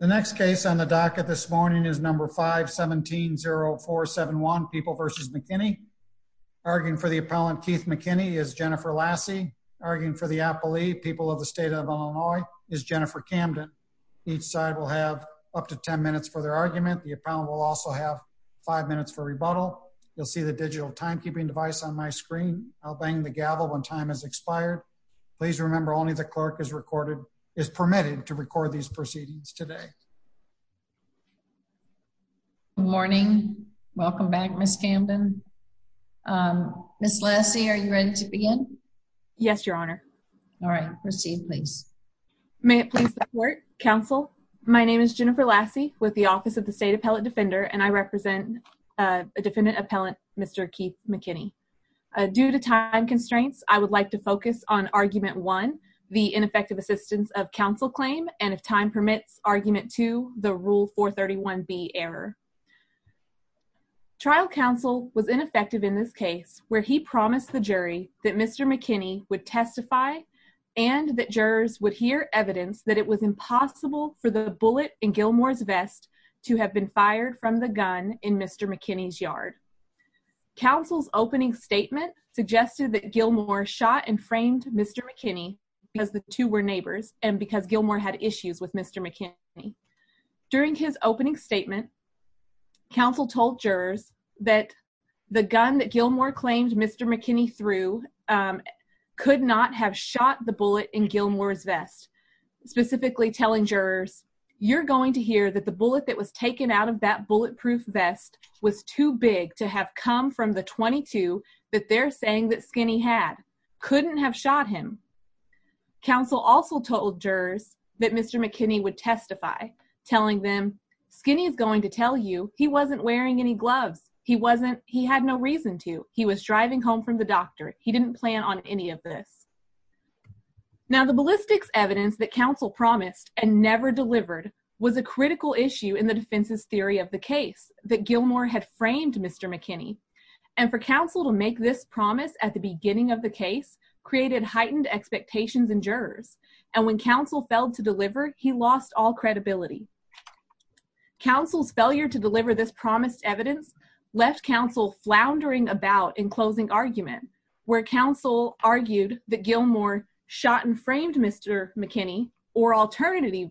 The next case on the docket this morning is number 517-0471, People v. McKinney. Arguing for the appellant, Keith McKinney, is Jennifer Lassie. Arguing for the appellee, People of the State of Illinois, is Jennifer Camden. Each side will have up to 10 minutes for their argument. The appellant will also have 5 minutes for rebuttal. You'll see the digital timekeeping device on my screen. I'll bang the gavel when time has expired. Please remember, only the clerk is permitted to record these proceedings today. Good morning. Welcome back, Ms. Camden. Ms. Lassie, are you ready to begin? Yes, Your Honor. All right. Proceed, please. May it please the Court, Counsel. My name is Jennifer Lassie with the Office of the State Appellate Defender, and I represent a defendant appellant, Mr. Keith McKinney. Due to time constraints, I would like to focus on Argument 1, the ineffective assistance of counsel claim, and if time permits, Argument 2, the Rule 431B error. Trial counsel was ineffective in this case, where he promised the jury that Mr. McKinney would testify and that jurors would hear evidence that it was impossible for the bullet in Gilmore's vest to have been fired from the gun in Mr. McKinney's yard. Counsel's opening statement suggested that Gilmore shot and framed Mr. McKinney because the two were neighbors and because Gilmore had issues with Mr. McKinney. During his opening statement, counsel told jurors that the gun that Gilmore claimed Mr. McKinney threw could not have shot the bullet in Gilmore's vest, specifically telling jurors, You're going to hear that the bullet that was taken out of that bulletproof vest was too big to have come from the .22 that they're saying that Skinney had. Couldn't have shot him. Counsel also told jurors that Mr. McKinney would testify, telling them, Skinney is going to tell you he wasn't wearing any gloves. He wasn't. He had no reason to. He was driving home from the doctor. He didn't plan on any of this. Now, the ballistics evidence that counsel promised and never delivered was a critical issue in the defense's theory of the case that Gilmore had framed Mr. McKinney. And for counsel to make this promise at the beginning of the case created heightened expectations in jurors. And when counsel failed to deliver, he lost all credibility. Counsel's failure to deliver this promised evidence left counsel floundering about in closing argument where counsel argued that Gilmore shot and framed Mr. McKinney or alternatively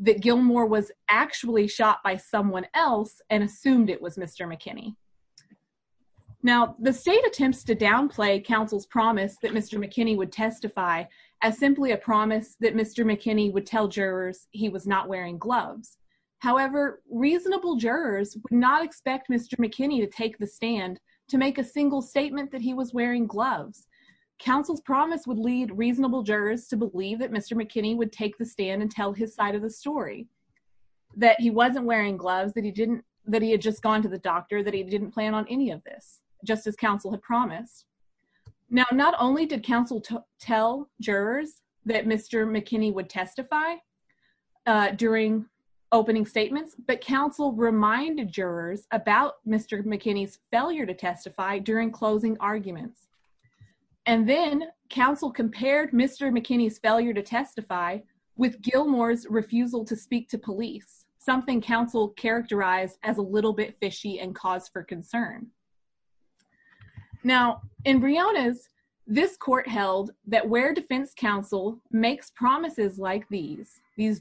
that Gilmore was actually shot by someone else and assumed it was Mr. McKinney. Now, the state attempts to downplay counsel's promise that Mr. McKinney would testify as simply a promise that Mr. McKinney would tell jurors he was not wearing gloves. However, reasonable jurors would not expect Mr. McKinney to take the stand to make a single statement that he was wearing gloves. Counsel's promise would lead reasonable jurors to believe that Mr. McKinney would take the stand and tell his side of the story, that he wasn't wearing gloves, that he had just gone to the doctor, Now, not only did counsel tell jurors that Mr. McKinney would testify during opening statements, but counsel reminded jurors about Mr. McKinney's failure to testify during closing arguments. And then counsel compared Mr. McKinney's failure to testify with Gilmore's refusal to speak to police, something counsel characterized as a little bit fishy and cause for concern. Now, in Briona's, this court held that where defense counsel makes promises like these, these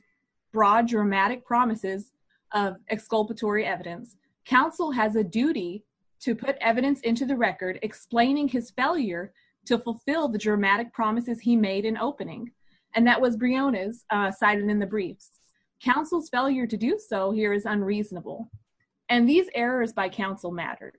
broad dramatic promises of exculpatory evidence, counsel has a duty to put evidence into the record explaining his failure to fulfill the dramatic promises he made in opening. And that was Briona's cited in the briefs. Counsel's failure to do so here is unreasonable. And these errors by counsel mattered.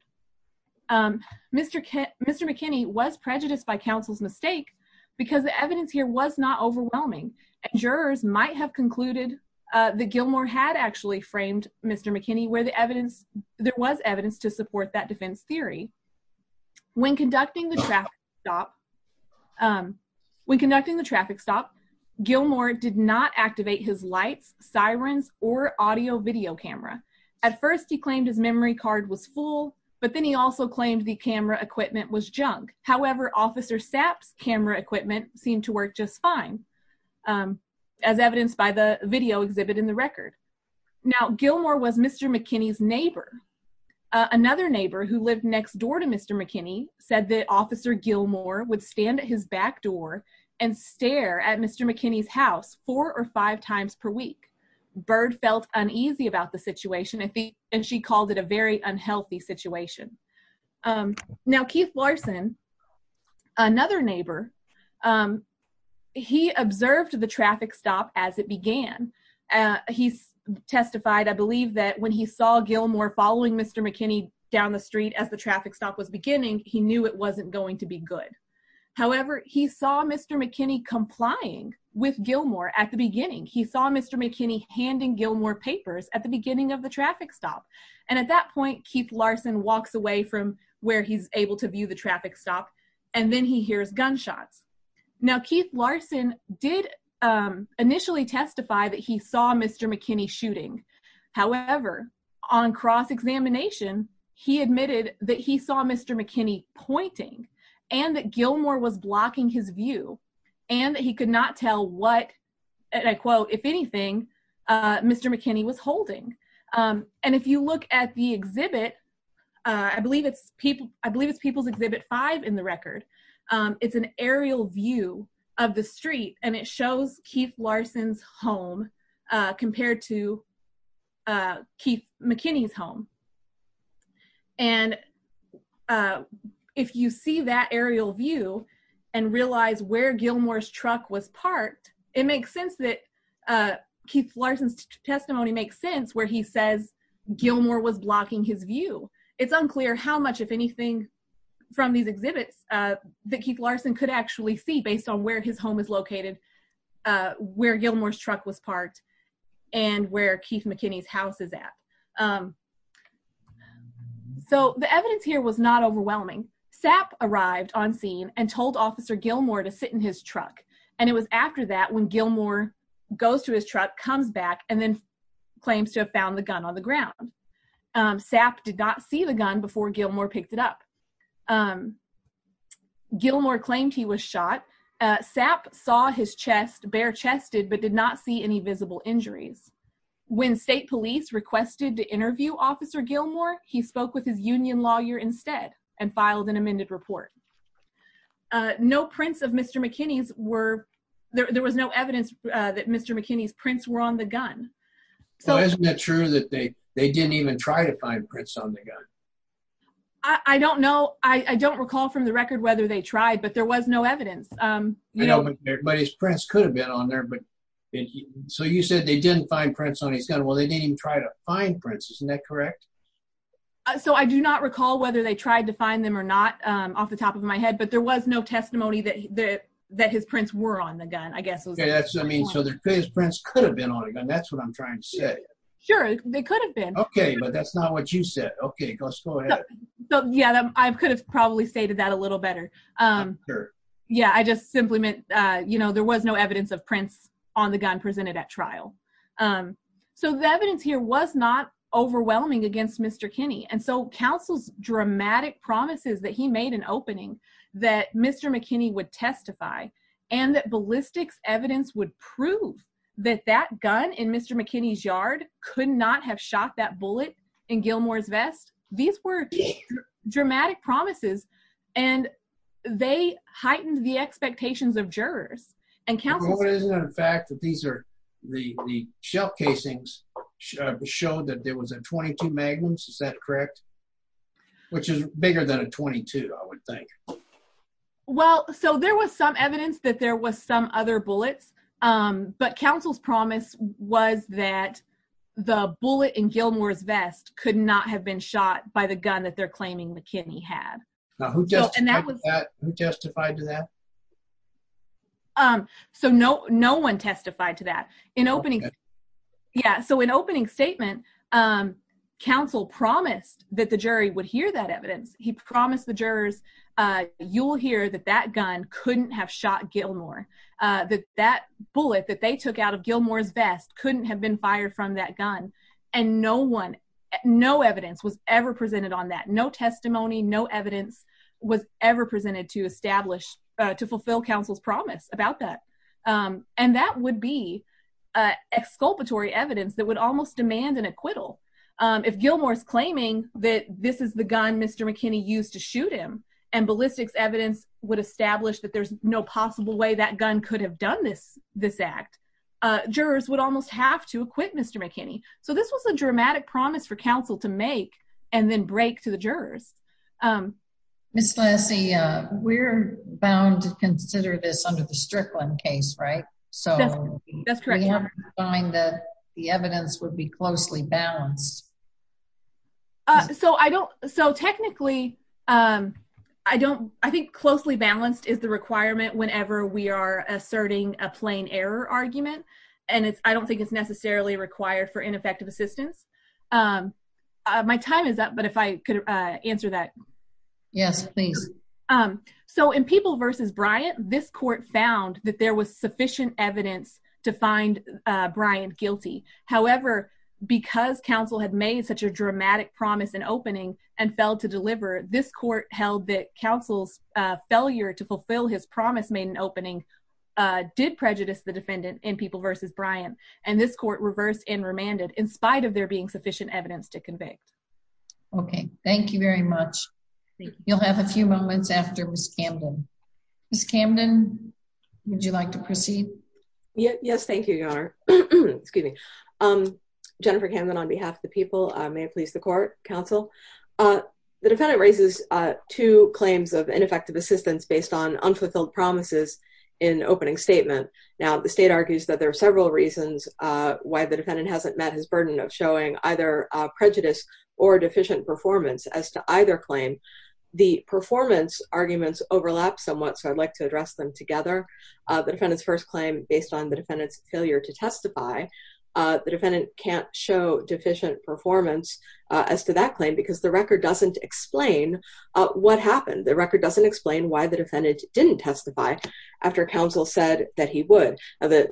Mr. McKinney was prejudiced by counsel's mistake because the evidence here was not overwhelming. Jurors might have concluded that Gilmore had actually framed Mr. McKinney where there was evidence to support that defense theory. When conducting the traffic stop, Gilmore did not activate his lights, sirens, or audio video camera. At first he claimed his memory card was full, but then he also claimed the camera equipment was junk. However, Officer Sapp's camera equipment seemed to work just fine, as evidenced by the video exhibit in the record. Now, Gilmore was Mr. McKinney's neighbor. Another neighbor who lived next door to Mr. McKinney said that Officer Gilmore would stand at his back door and stare at Mr. McKinney's house four or five times per week. Bird felt uneasy about the situation, and she called it a very unhealthy situation. Now, Keith Larson, another neighbor, he observed the traffic stop as it began. He testified, I believe, that when he saw Gilmore following Mr. McKinney down the street as the traffic stop was beginning, he knew it wasn't going to be good. However, he saw Mr. McKinney complying with Gilmore at the beginning. He saw Mr. McKinney handing Gilmore papers at the beginning of the traffic stop. And at that point, Keith Larson walks away from where he's able to view the traffic stop, and then he hears gunshots. Now, Keith Larson did initially testify that he saw Mr. McKinney shooting. However, on cross-examination, he admitted that he saw Mr. McKinney pointing and that Gilmore was blocking his view and that he could not tell what, and I quote, if anything, Mr. McKinney was holding. And if you look at the exhibit, I believe it's People's Exhibit 5 in the record, it's an aerial view of the street, and it shows Keith Larson's home compared to Keith McKinney's home. And if you see that aerial view and realize where Gilmore's truck was parked, it makes sense that Keith Larson's testimony makes sense where he says Gilmore was blocking his view. It's unclear how much, if anything, from these exhibits that Keith Larson could actually see based on where his home is located, where Gilmore's truck was parked, and where Keith McKinney's house is at. So the evidence here was not overwhelming. SAP arrived on scene and told Officer Gilmore to sit in his truck, and it was after that when Gilmore goes to his truck, comes back, and then claims to have found the gun on the ground. SAP did not see the gun before Gilmore picked it up. Gilmore claimed he was shot. SAP saw his chest, bare-chested, but did not see any visible injuries. When state police requested to interview Officer Gilmore, he spoke with his union lawyer instead and filed an amended report. No prints of Mr. McKinney's were – there was no evidence that Mr. McKinney's prints were on the gun. Well, isn't it true that they didn't even try to find prints on the gun? I don't know. I don't recall from the record whether they tried, but there was no evidence. But his prints could have been on there. So you said they didn't find prints on his gun. Well, they didn't even try to find prints. Isn't that correct? So I do not recall whether they tried to find them or not off the top of my head, but there was no testimony that his prints were on the gun, I guess. So his prints could have been on the gun. That's what I'm trying to say. Sure, they could have been. Okay, but that's not what you said. Okay, let's go ahead. Yeah, I could have probably stated that a little better. Yeah, I just simply meant, you know, there was no evidence of prints on the gun presented at trial. So the evidence here was not overwhelming against Mr. Kinney. And so counsel's dramatic promises that he made in opening that Mr. McKinney would testify and that ballistics evidence would prove that that gun in Mr. McKinney's yard could not have shot that bullet in Gilmore's vest, these were dramatic promises. And they heightened the expectations of jurors. Well, isn't it a fact that the shell casings showed that there was a .22 Magnum, is that correct? Which is bigger than a .22, I would think. Well, so there was some evidence that there was some other bullets, but counsel's promise was that the bullet in Gilmore's vest could not have been shot by the gun that they're claiming McKinney had. Who testified to that? So no one testified to that. So in opening statement, counsel promised that the jury would hear that evidence. He promised the jurors, you'll hear that that gun couldn't have shot Gilmore, that that bullet that they took out of Gilmore's vest couldn't have been fired from that gun. And no one, no evidence was ever presented on that. No testimony, no evidence was ever presented to establish, to fulfill counsel's promise about that. And that would be exculpatory evidence that would almost demand an acquittal. If Gilmore's claiming that this is the gun Mr. McKinney used to shoot him, and ballistics evidence would establish that there's no possible way that gun could have done this act, jurors would almost have to acquit Mr. McKinney. So this was a dramatic promise for counsel to make and then break to the jurors. Ms. Lassie, we're bound to consider this under the Strickland case, right? So we haven't defined that the evidence would be closely balanced. So I don't, so technically, I don't, I think closely balanced is the requirement whenever we are asserting a plain error argument. And I don't think it's necessarily required for ineffective assistance. My time is up, but if I could answer that. Yes, please. So in People v. Bryant, this court found that there was sufficient evidence to find Bryant guilty. However, because counsel had made such a dramatic promise and opening and failed to deliver, this court held that counsel's failure to fulfill his promise made an opening, did prejudice the defendant in People v. Bryant. And this court reversed and remanded in spite of there being sufficient evidence to convict. Okay, thank you very much. You'll have a few moments after Ms. Camden. Ms. Camden, would you like to proceed? Yes, thank you, Your Honor. Excuse me. Jennifer Camden on behalf of the People. May it please the court, counsel. The defendant raises two claims of ineffective assistance based on unfulfilled promises in opening statement. Now, the state argues that there are several reasons why the defendant hasn't met his burden of showing either prejudice or deficient performance as to either claim. The performance arguments overlap somewhat, so I'd like to address them together. The defendant's first claim, based on the defendant's failure to testify, the defendant can't show deficient performance as to that claim because the record doesn't explain what happened. The record doesn't explain why the defendant didn't testify after counsel said that he would. The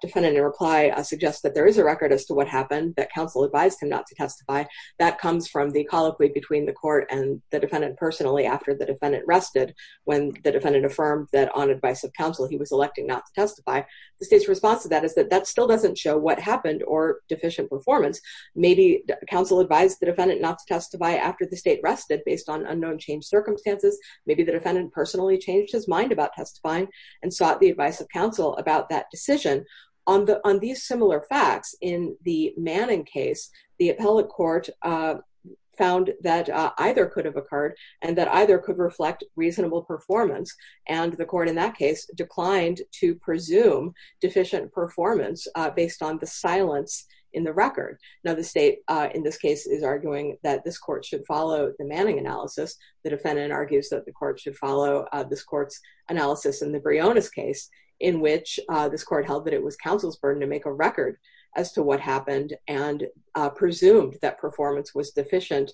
defendant in reply suggests that there is a record as to what happened, that counsel advised him not to testify. That comes from the colloquy between the court and the defendant personally after the defendant rested when the defendant affirmed that on advice of counsel he was electing not to testify. The state's response to that is that that still doesn't show what happened or deficient performance. Maybe counsel advised the defendant not to testify after the state rested based on unknown changed circumstances. Maybe the defendant personally changed his mind about testifying and sought the advice of counsel about that decision. On these similar facts, in the Manning case, the appellate court found that either could have occurred and that either could reflect reasonable performance, and the court in that case declined to presume deficient performance based on the silence in the record. Now, the state in this case is arguing that this court should follow the Manning analysis. The defendant argues that the court should follow this court's analysis in the Briones case in which this court held that it was counsel's burden to make a record as to what happened and presumed that performance was deficient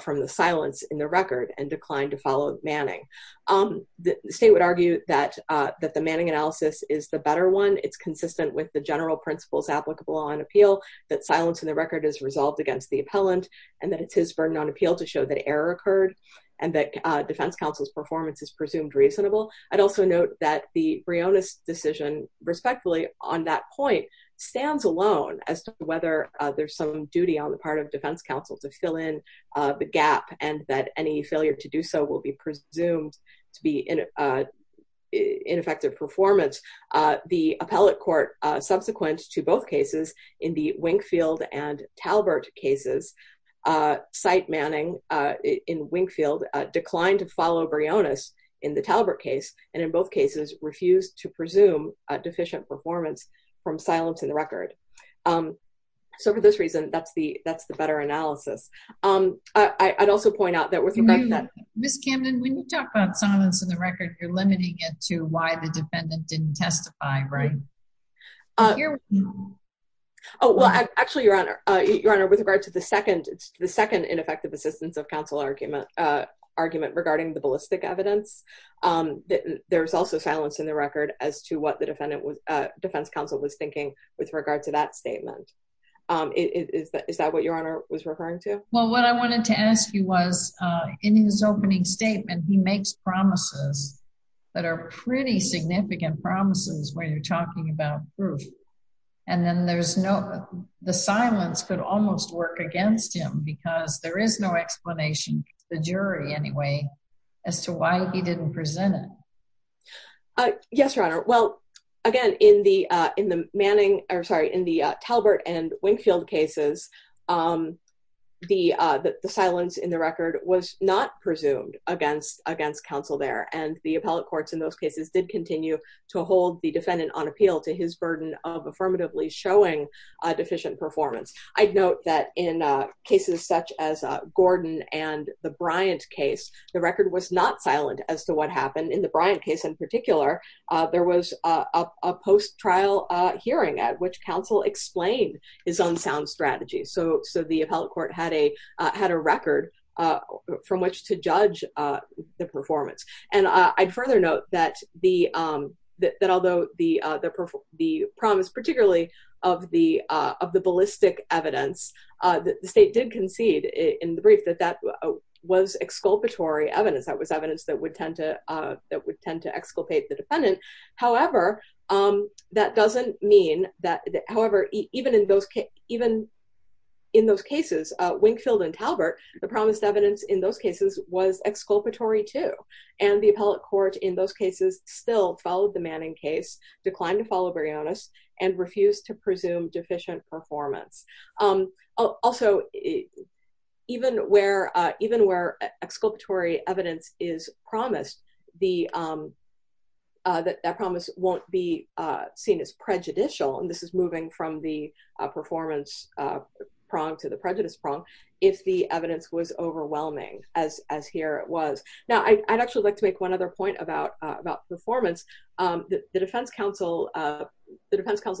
from the silence in the record and declined to follow Manning. The state would argue that the Manning analysis is the better one. It's consistent with the general principles applicable on appeal, that silence in the record is resolved against the appellant, and that it's his burden on appeal to show that error occurred and that defense counsel's performance is presumed reasonable. I'd also note that the Briones decision, respectfully, on that point stands alone as to whether there's some duty on the part of defense counsel to fill in the gap and that any failure to do so will be presumed to be ineffective performance. The appellate court, subsequent to both cases, in the Winkfield and Talbert cases, cite Manning in Winkfield, declined to follow Briones in the Talbert case, and in both cases refused to presume deficient performance from silence in the record. So for this reason, that's the better analysis. I'd also point out that with regard to that- Ms. Camden, when you talk about silence in the record, you're limiting it to why the defendant didn't testify. Right. Actually, Your Honor, with regard to the second ineffective assistance of counsel argument regarding the ballistic evidence, there's also silence in the record Is that what Your Honor was referring to? Well, what I wanted to ask you was, in his opening statement, he makes promises that are pretty significant promises when you're talking about proof, and then the silence could almost work against him because there is no explanation, the jury anyway, as to why he didn't present it. Yes, Your Honor. Well, again, in the Talbert and Winkfield cases, the silence in the record was not presumed against counsel there, and the appellate courts in those cases did continue to hold the defendant on appeal to his burden of affirmatively showing deficient performance. I'd note that in cases such as Gordon and the Bryant case, the record was not silent as to what happened. In the Bryant case in particular, there was a post-trial hearing at which counsel explained his own sound strategy. So the appellate court had a record from which to judge the performance. And I'd further note that although the promise, particularly of the ballistic evidence, the state did concede in the brief that that was exculpatory evidence, that was evidence that would tend to exculpate the defendant. However, that doesn't mean that... However, even in those cases, Winkfield and Talbert, the promised evidence in those cases was exculpatory too. And the appellate court in those cases still followed the Manning case, declined to follow Brionis, and refused to presume deficient performance. Also, even where exculpatory evidence is promised, that promise won't be seen as prejudicial, and this is moving from the performance prong to the prejudice prong, if the evidence was overwhelming as here it was. Now, I'd actually like to make one other point about performance. The defense counsel's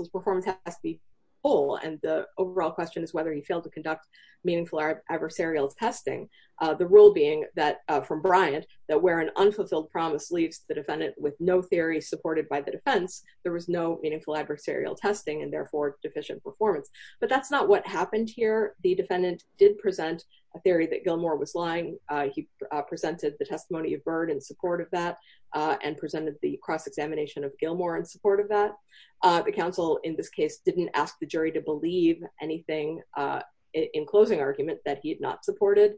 performance has to be full and the overall question is whether he failed to conduct meaningful adversarial testing. The rule being that from Bryant, that where an unfulfilled promise leaves the defendant with no theory supported by the defense, there was no meaningful adversarial testing and therefore deficient performance. But that's not what happened here. The defendant did present a theory that Gilmour was lying. He presented the testimony of Byrd in support of that and presented the cross-examination of Gilmour in support of that. The counsel, in this case, didn't ask the jury to believe anything in closing argument that he had not supported.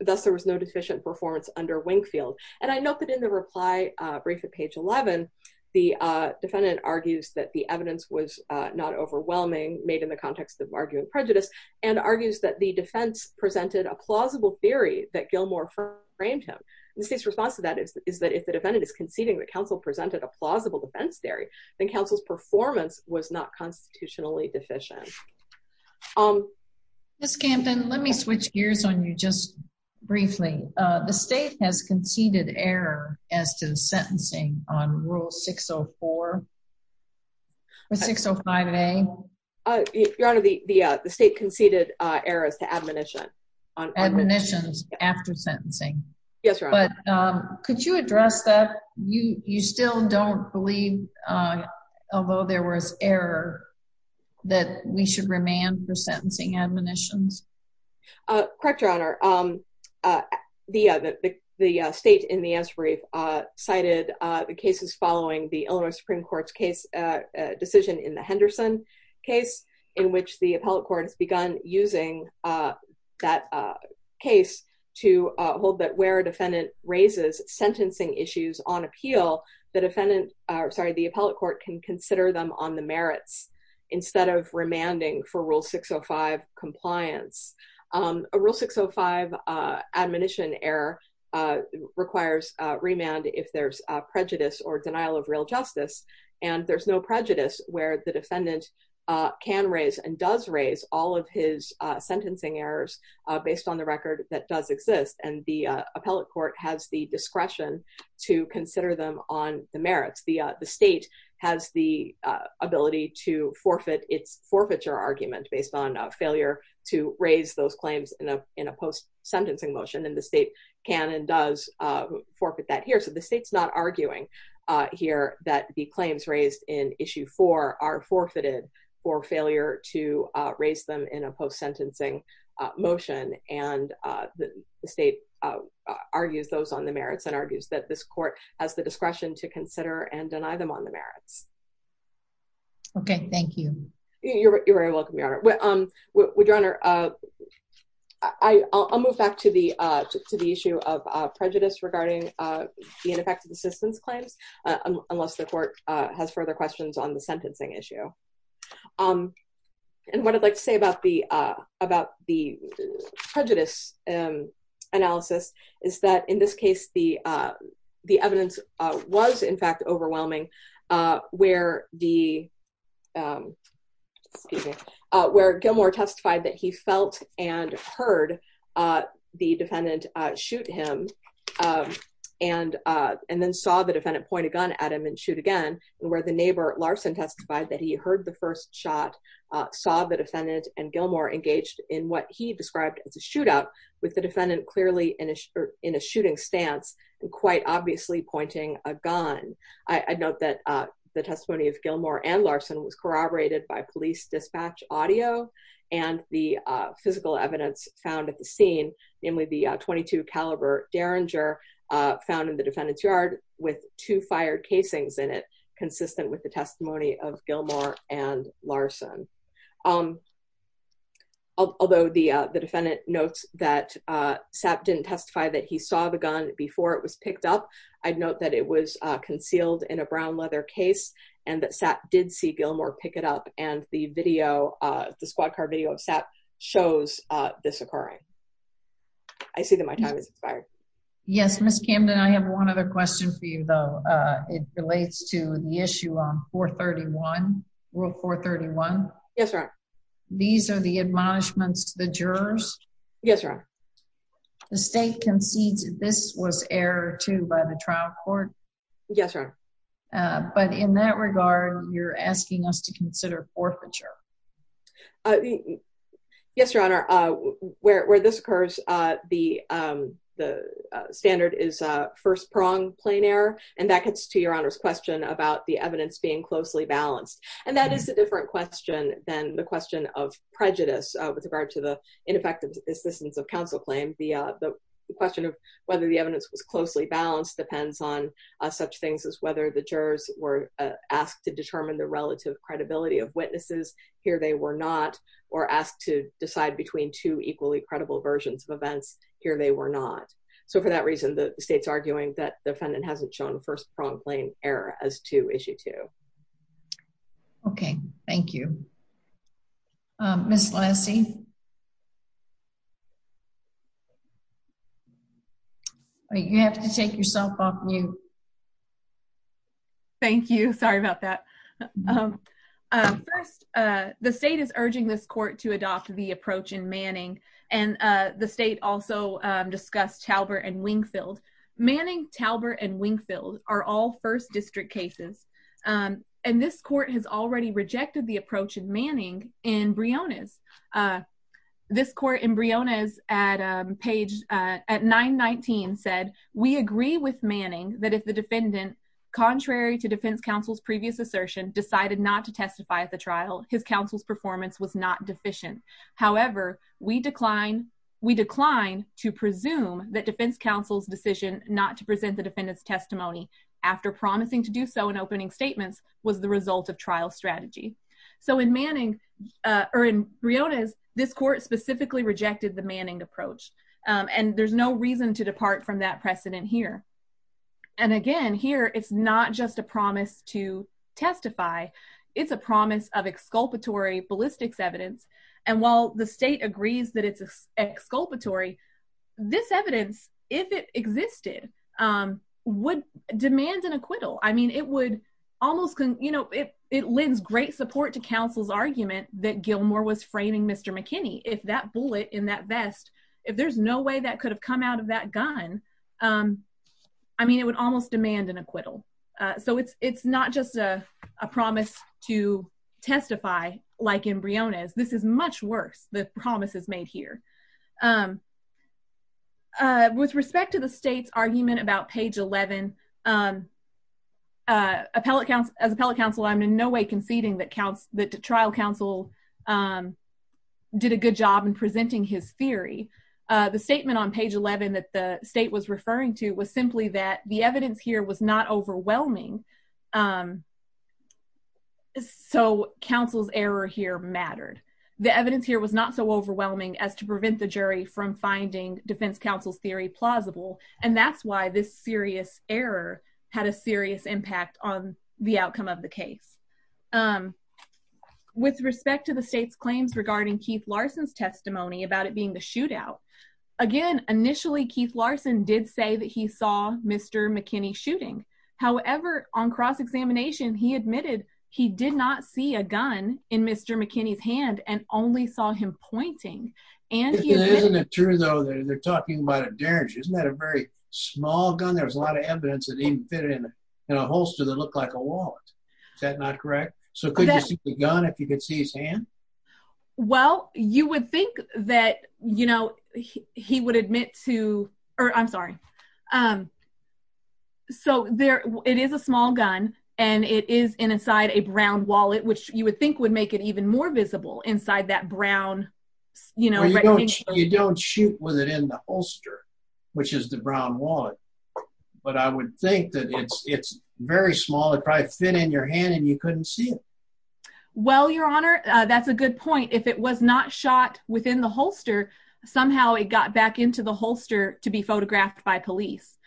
Thus, there was no deficient performance under Wingfield. And I note that in the reply brief at page 11, the defendant argues that the evidence was not overwhelming, made in the context of arguing prejudice, and argues that the defense presented a plausible theory that Gilmour framed him. The state's response to that is that if the defendant is conceiving that counsel presented a plausible defense theory, then counsel's performance was not constitutionally deficient. Ms. Camden, let me switch gears on you just briefly. The state has conceded error as to the sentencing on Rule 604 or 605A. Your Honor, the state conceded error as to admonition. Yes, Your Honor. But could you address that? You still don't believe, although there was error, that we should remand for sentencing admonitions? Correct, Your Honor. The state in the answer brief cited the cases following the Illinois Supreme Court's decision in the Henderson case, in which the appellate court has begun using that case to hold that where a defendant raises sentencing issues on appeal, the appellate court can consider them on the merits instead of remanding for Rule 605 compliance. A Rule 605 admonition error requires remand if there's prejudice or denial of real justice, and there's no prejudice where the defendant can raise and does raise all of his sentencing errors based on the record that does exist, and the appellate court has the discretion to consider them on the merits. The state has the ability to forfeit its forfeiture argument based on failure to raise those claims in a post-sentencing motion, and the state can and does forfeit that here. So the state's not arguing here that the claims raised in Issue 4 are forfeited for failure to raise them in a post-sentencing motion, and the state argues those on the merits and argues that this court has the discretion to consider and deny them on the merits. Okay, thank you. You're very welcome, Your Honor. Your Honor, I'll move back to the issue of prejudice regarding the ineffective assistance claims, unless the court has further questions on the sentencing issue. And what I'd like to say about the prejudice analysis is that in this case, the evidence was, in fact, overwhelming where Gilmore testified that he felt and heard the defendant shoot him and then saw the defendant point a gun at him and shoot again, and where the neighbor, Larson, testified that he heard the first shot, saw the defendant and Gilmore engaged in what he described as a shootout with the defendant clearly in a shooting stance and quite obviously pointing a gun. I note that the testimony of Gilmore and Larson was corroborated by police dispatch audio and the physical evidence found at the scene, namely the .22 caliber Derringer found in the defendant's yard with two fired casings in it, consistent with the testimony of Gilmore and Larson. Although the defendant notes that Sapp didn't testify that he saw the gun before it was picked up, I'd note that it was concealed in a brown leather case and that Sapp did see Gilmore pick it up and the squad car video of Sapp shows this occurring. I see that my time has expired. Yes, Ms. Camden, I have one other question for you, though. It relates to the issue on 431, Rule 431. Yes, Your Honor. These are the admonishments to the jurors. Yes, Your Honor. The state concedes that this was error, too, by the trial court. Yes, Your Honor. But in that regard, you're asking us to consider forfeiture. Yes, Your Honor. Where this occurs, the standard is first-pronged plain error, and that gets to Your Honor's question about the evidence being closely balanced, and that is a different question than the question of prejudice with regard to the ineffective assistance of counsel claim. The question of whether the evidence was closely balanced depends on such things as whether the jurors were asked to determine the relative credibility of witnesses, here they were not, or asked to decide between two equally credible versions of events, here they were not. So for that reason, the state's arguing that the defendant hasn't shown first-pronged plain error as to Issue 2. Okay. Thank you. Ms. Lassie? Ms. Lassie? You have to take yourself off mute. Thank you. Sorry about that. First, the state is urging this court to adopt the approach in Manning, and the state also discussed Talbert and Wingfield. Manning, Talbert, and Wingfield are all first district cases, and this court has already rejected the approach in Manning in Briones. This court in Briones at page 919 said, we agree with Manning that if the defendant, contrary to defense counsel's previous assertion, decided not to testify at the trial, his counsel's performance was not deficient. However, we decline to presume that defense counsel's decision not to present the defendant's testimony after promising to do so in opening statements was the result of trial strategy. So in Manning, or in Briones, this court specifically rejected the Manning approach, and there's no reason to depart from that precedent here. And again, here, it's not just a promise to testify. It's a promise of exculpatory ballistics evidence, and while the state agrees that it's exculpatory, this evidence, if it existed, would demand an acquittal. I mean, it would almost, you know, it lends great support to counsel's argument that Gilmore was framing Mr. McKinney. If that bullet in that vest, if there's no way that could have come out of that gun, I mean, it would almost demand an acquittal. So it's not just a promise to testify like in Briones. This is much worse, the promises made here. With respect to the state's argument about page 11, as appellate counsel, I'm in no way conceding that trial counsel did a good job in presenting his theory. The statement on page 11 that the state was referring to was simply that the evidence here was not overwhelming, so counsel's error here mattered. The evidence here was not so overwhelming as to prevent the jury from finding defense counsel's theory plausible, and that's why this serious error had a serious impact on the outcome of the case. With respect to the state's claims regarding Keith Larson's testimony about it being the shootout, again, initially, Keith Larson did say that he saw Mr. McKinney shooting. However, on cross-examination, he admitted he did not see a gun in Mr. McKinney's hand and only saw him pointing, and he admitted- Isn't it true, though, that they're talking about a derringer? Isn't that a very small gun? There's a lot of evidence that he even fit it in a holster that looked like a wallet. Is that not correct? So could you see the gun if you could see his hand? Well, you would think that he would admit to, or I'm sorry, so it is a small gun, and it is inside a brown wallet, which you would think would make it even more visible, inside that brown, you know- You don't shoot with it in the holster, which is the brown wallet, but I would think that it's very small. It probably fit in your hand, and you couldn't see it. Well, Your Honor, that's a good point. If it was not shot within the holster, somehow it got back into the holster to be photographed by police,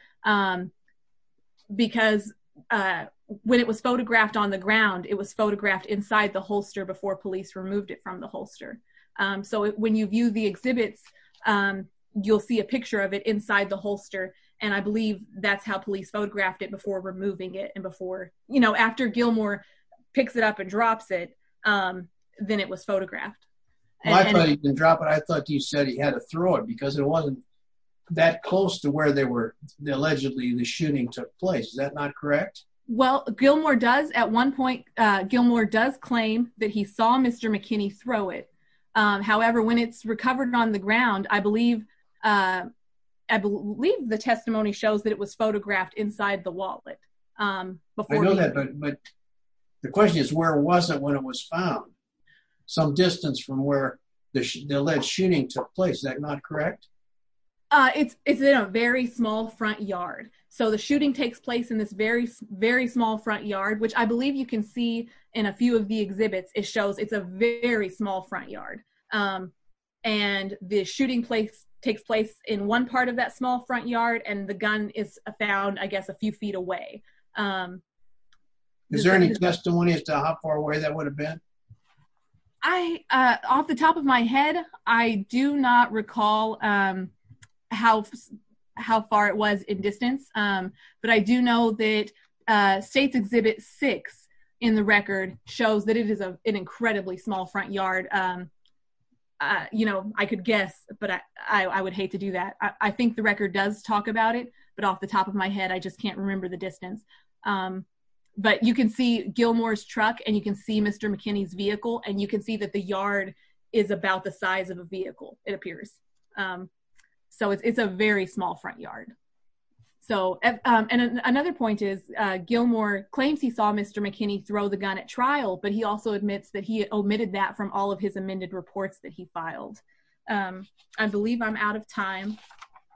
because when it was photographed on the ground, it was photographed inside the holster before police removed it from the holster. So when you view the exhibits, you'll see a picture of it inside the holster, and I believe that's how police photographed it before removing it, and before, you know, after Gilmore picks it up and drops it, then it was photographed. I thought he didn't drop it. I thought you said he had to throw it, because it wasn't that close to where they were, allegedly, the shooting took place. Is that not correct? Well, Gilmore does, at one point, Gilmore does claim that he saw Mr. McKinney throw it. However, when it's recovered on the ground, I believe the testimony shows that it was photographed inside the wallet. I know that, but the question is, where was it when it was found? Some distance from where the alleged shooting took place. Is that not correct? It's in a very small front yard. So the shooting takes place in this very, very small front yard, which I believe you can see in a few of the exhibits. It shows it's a very small front yard, and the shooting takes place in one part of that small front yard, and the gun is found, I guess, a few feet away. Is there any testimony as to how far away that would have been? Off the top of my head, I do not recall how far it was in distance, but I do know that States Exhibit 6 in the record shows that it is an incredibly small front yard. I could guess, but I would hate to do that. I think the record does talk about it, but off the top of my head, I just can't remember the distance. But you can see Gilmore's truck, and you can see Mr. McKinney's vehicle, and you can see that the yard is about the size of a vehicle, it appears. So it's a very small front yard. And another point is, Gilmore claims he saw Mr. McKinney throw the gun at trial, but he also admits that he omitted that from all of his amended reports that he filed. I believe I'm out of time,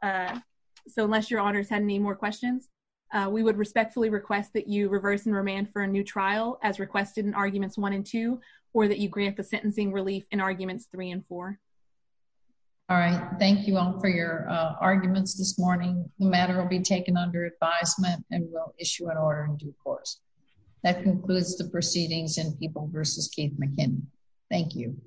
so unless your honors had any more questions, we would respectfully request that you reverse and remand for a new trial as requested in Arguments 1 and 2, or that you grant the sentencing relief in Arguments 3 and 4. All right. Thank you all for your arguments this morning. The matter will be taken under advisement and will issue an order in due course. That concludes the proceedings in People v. Keith McKinney. Thank you.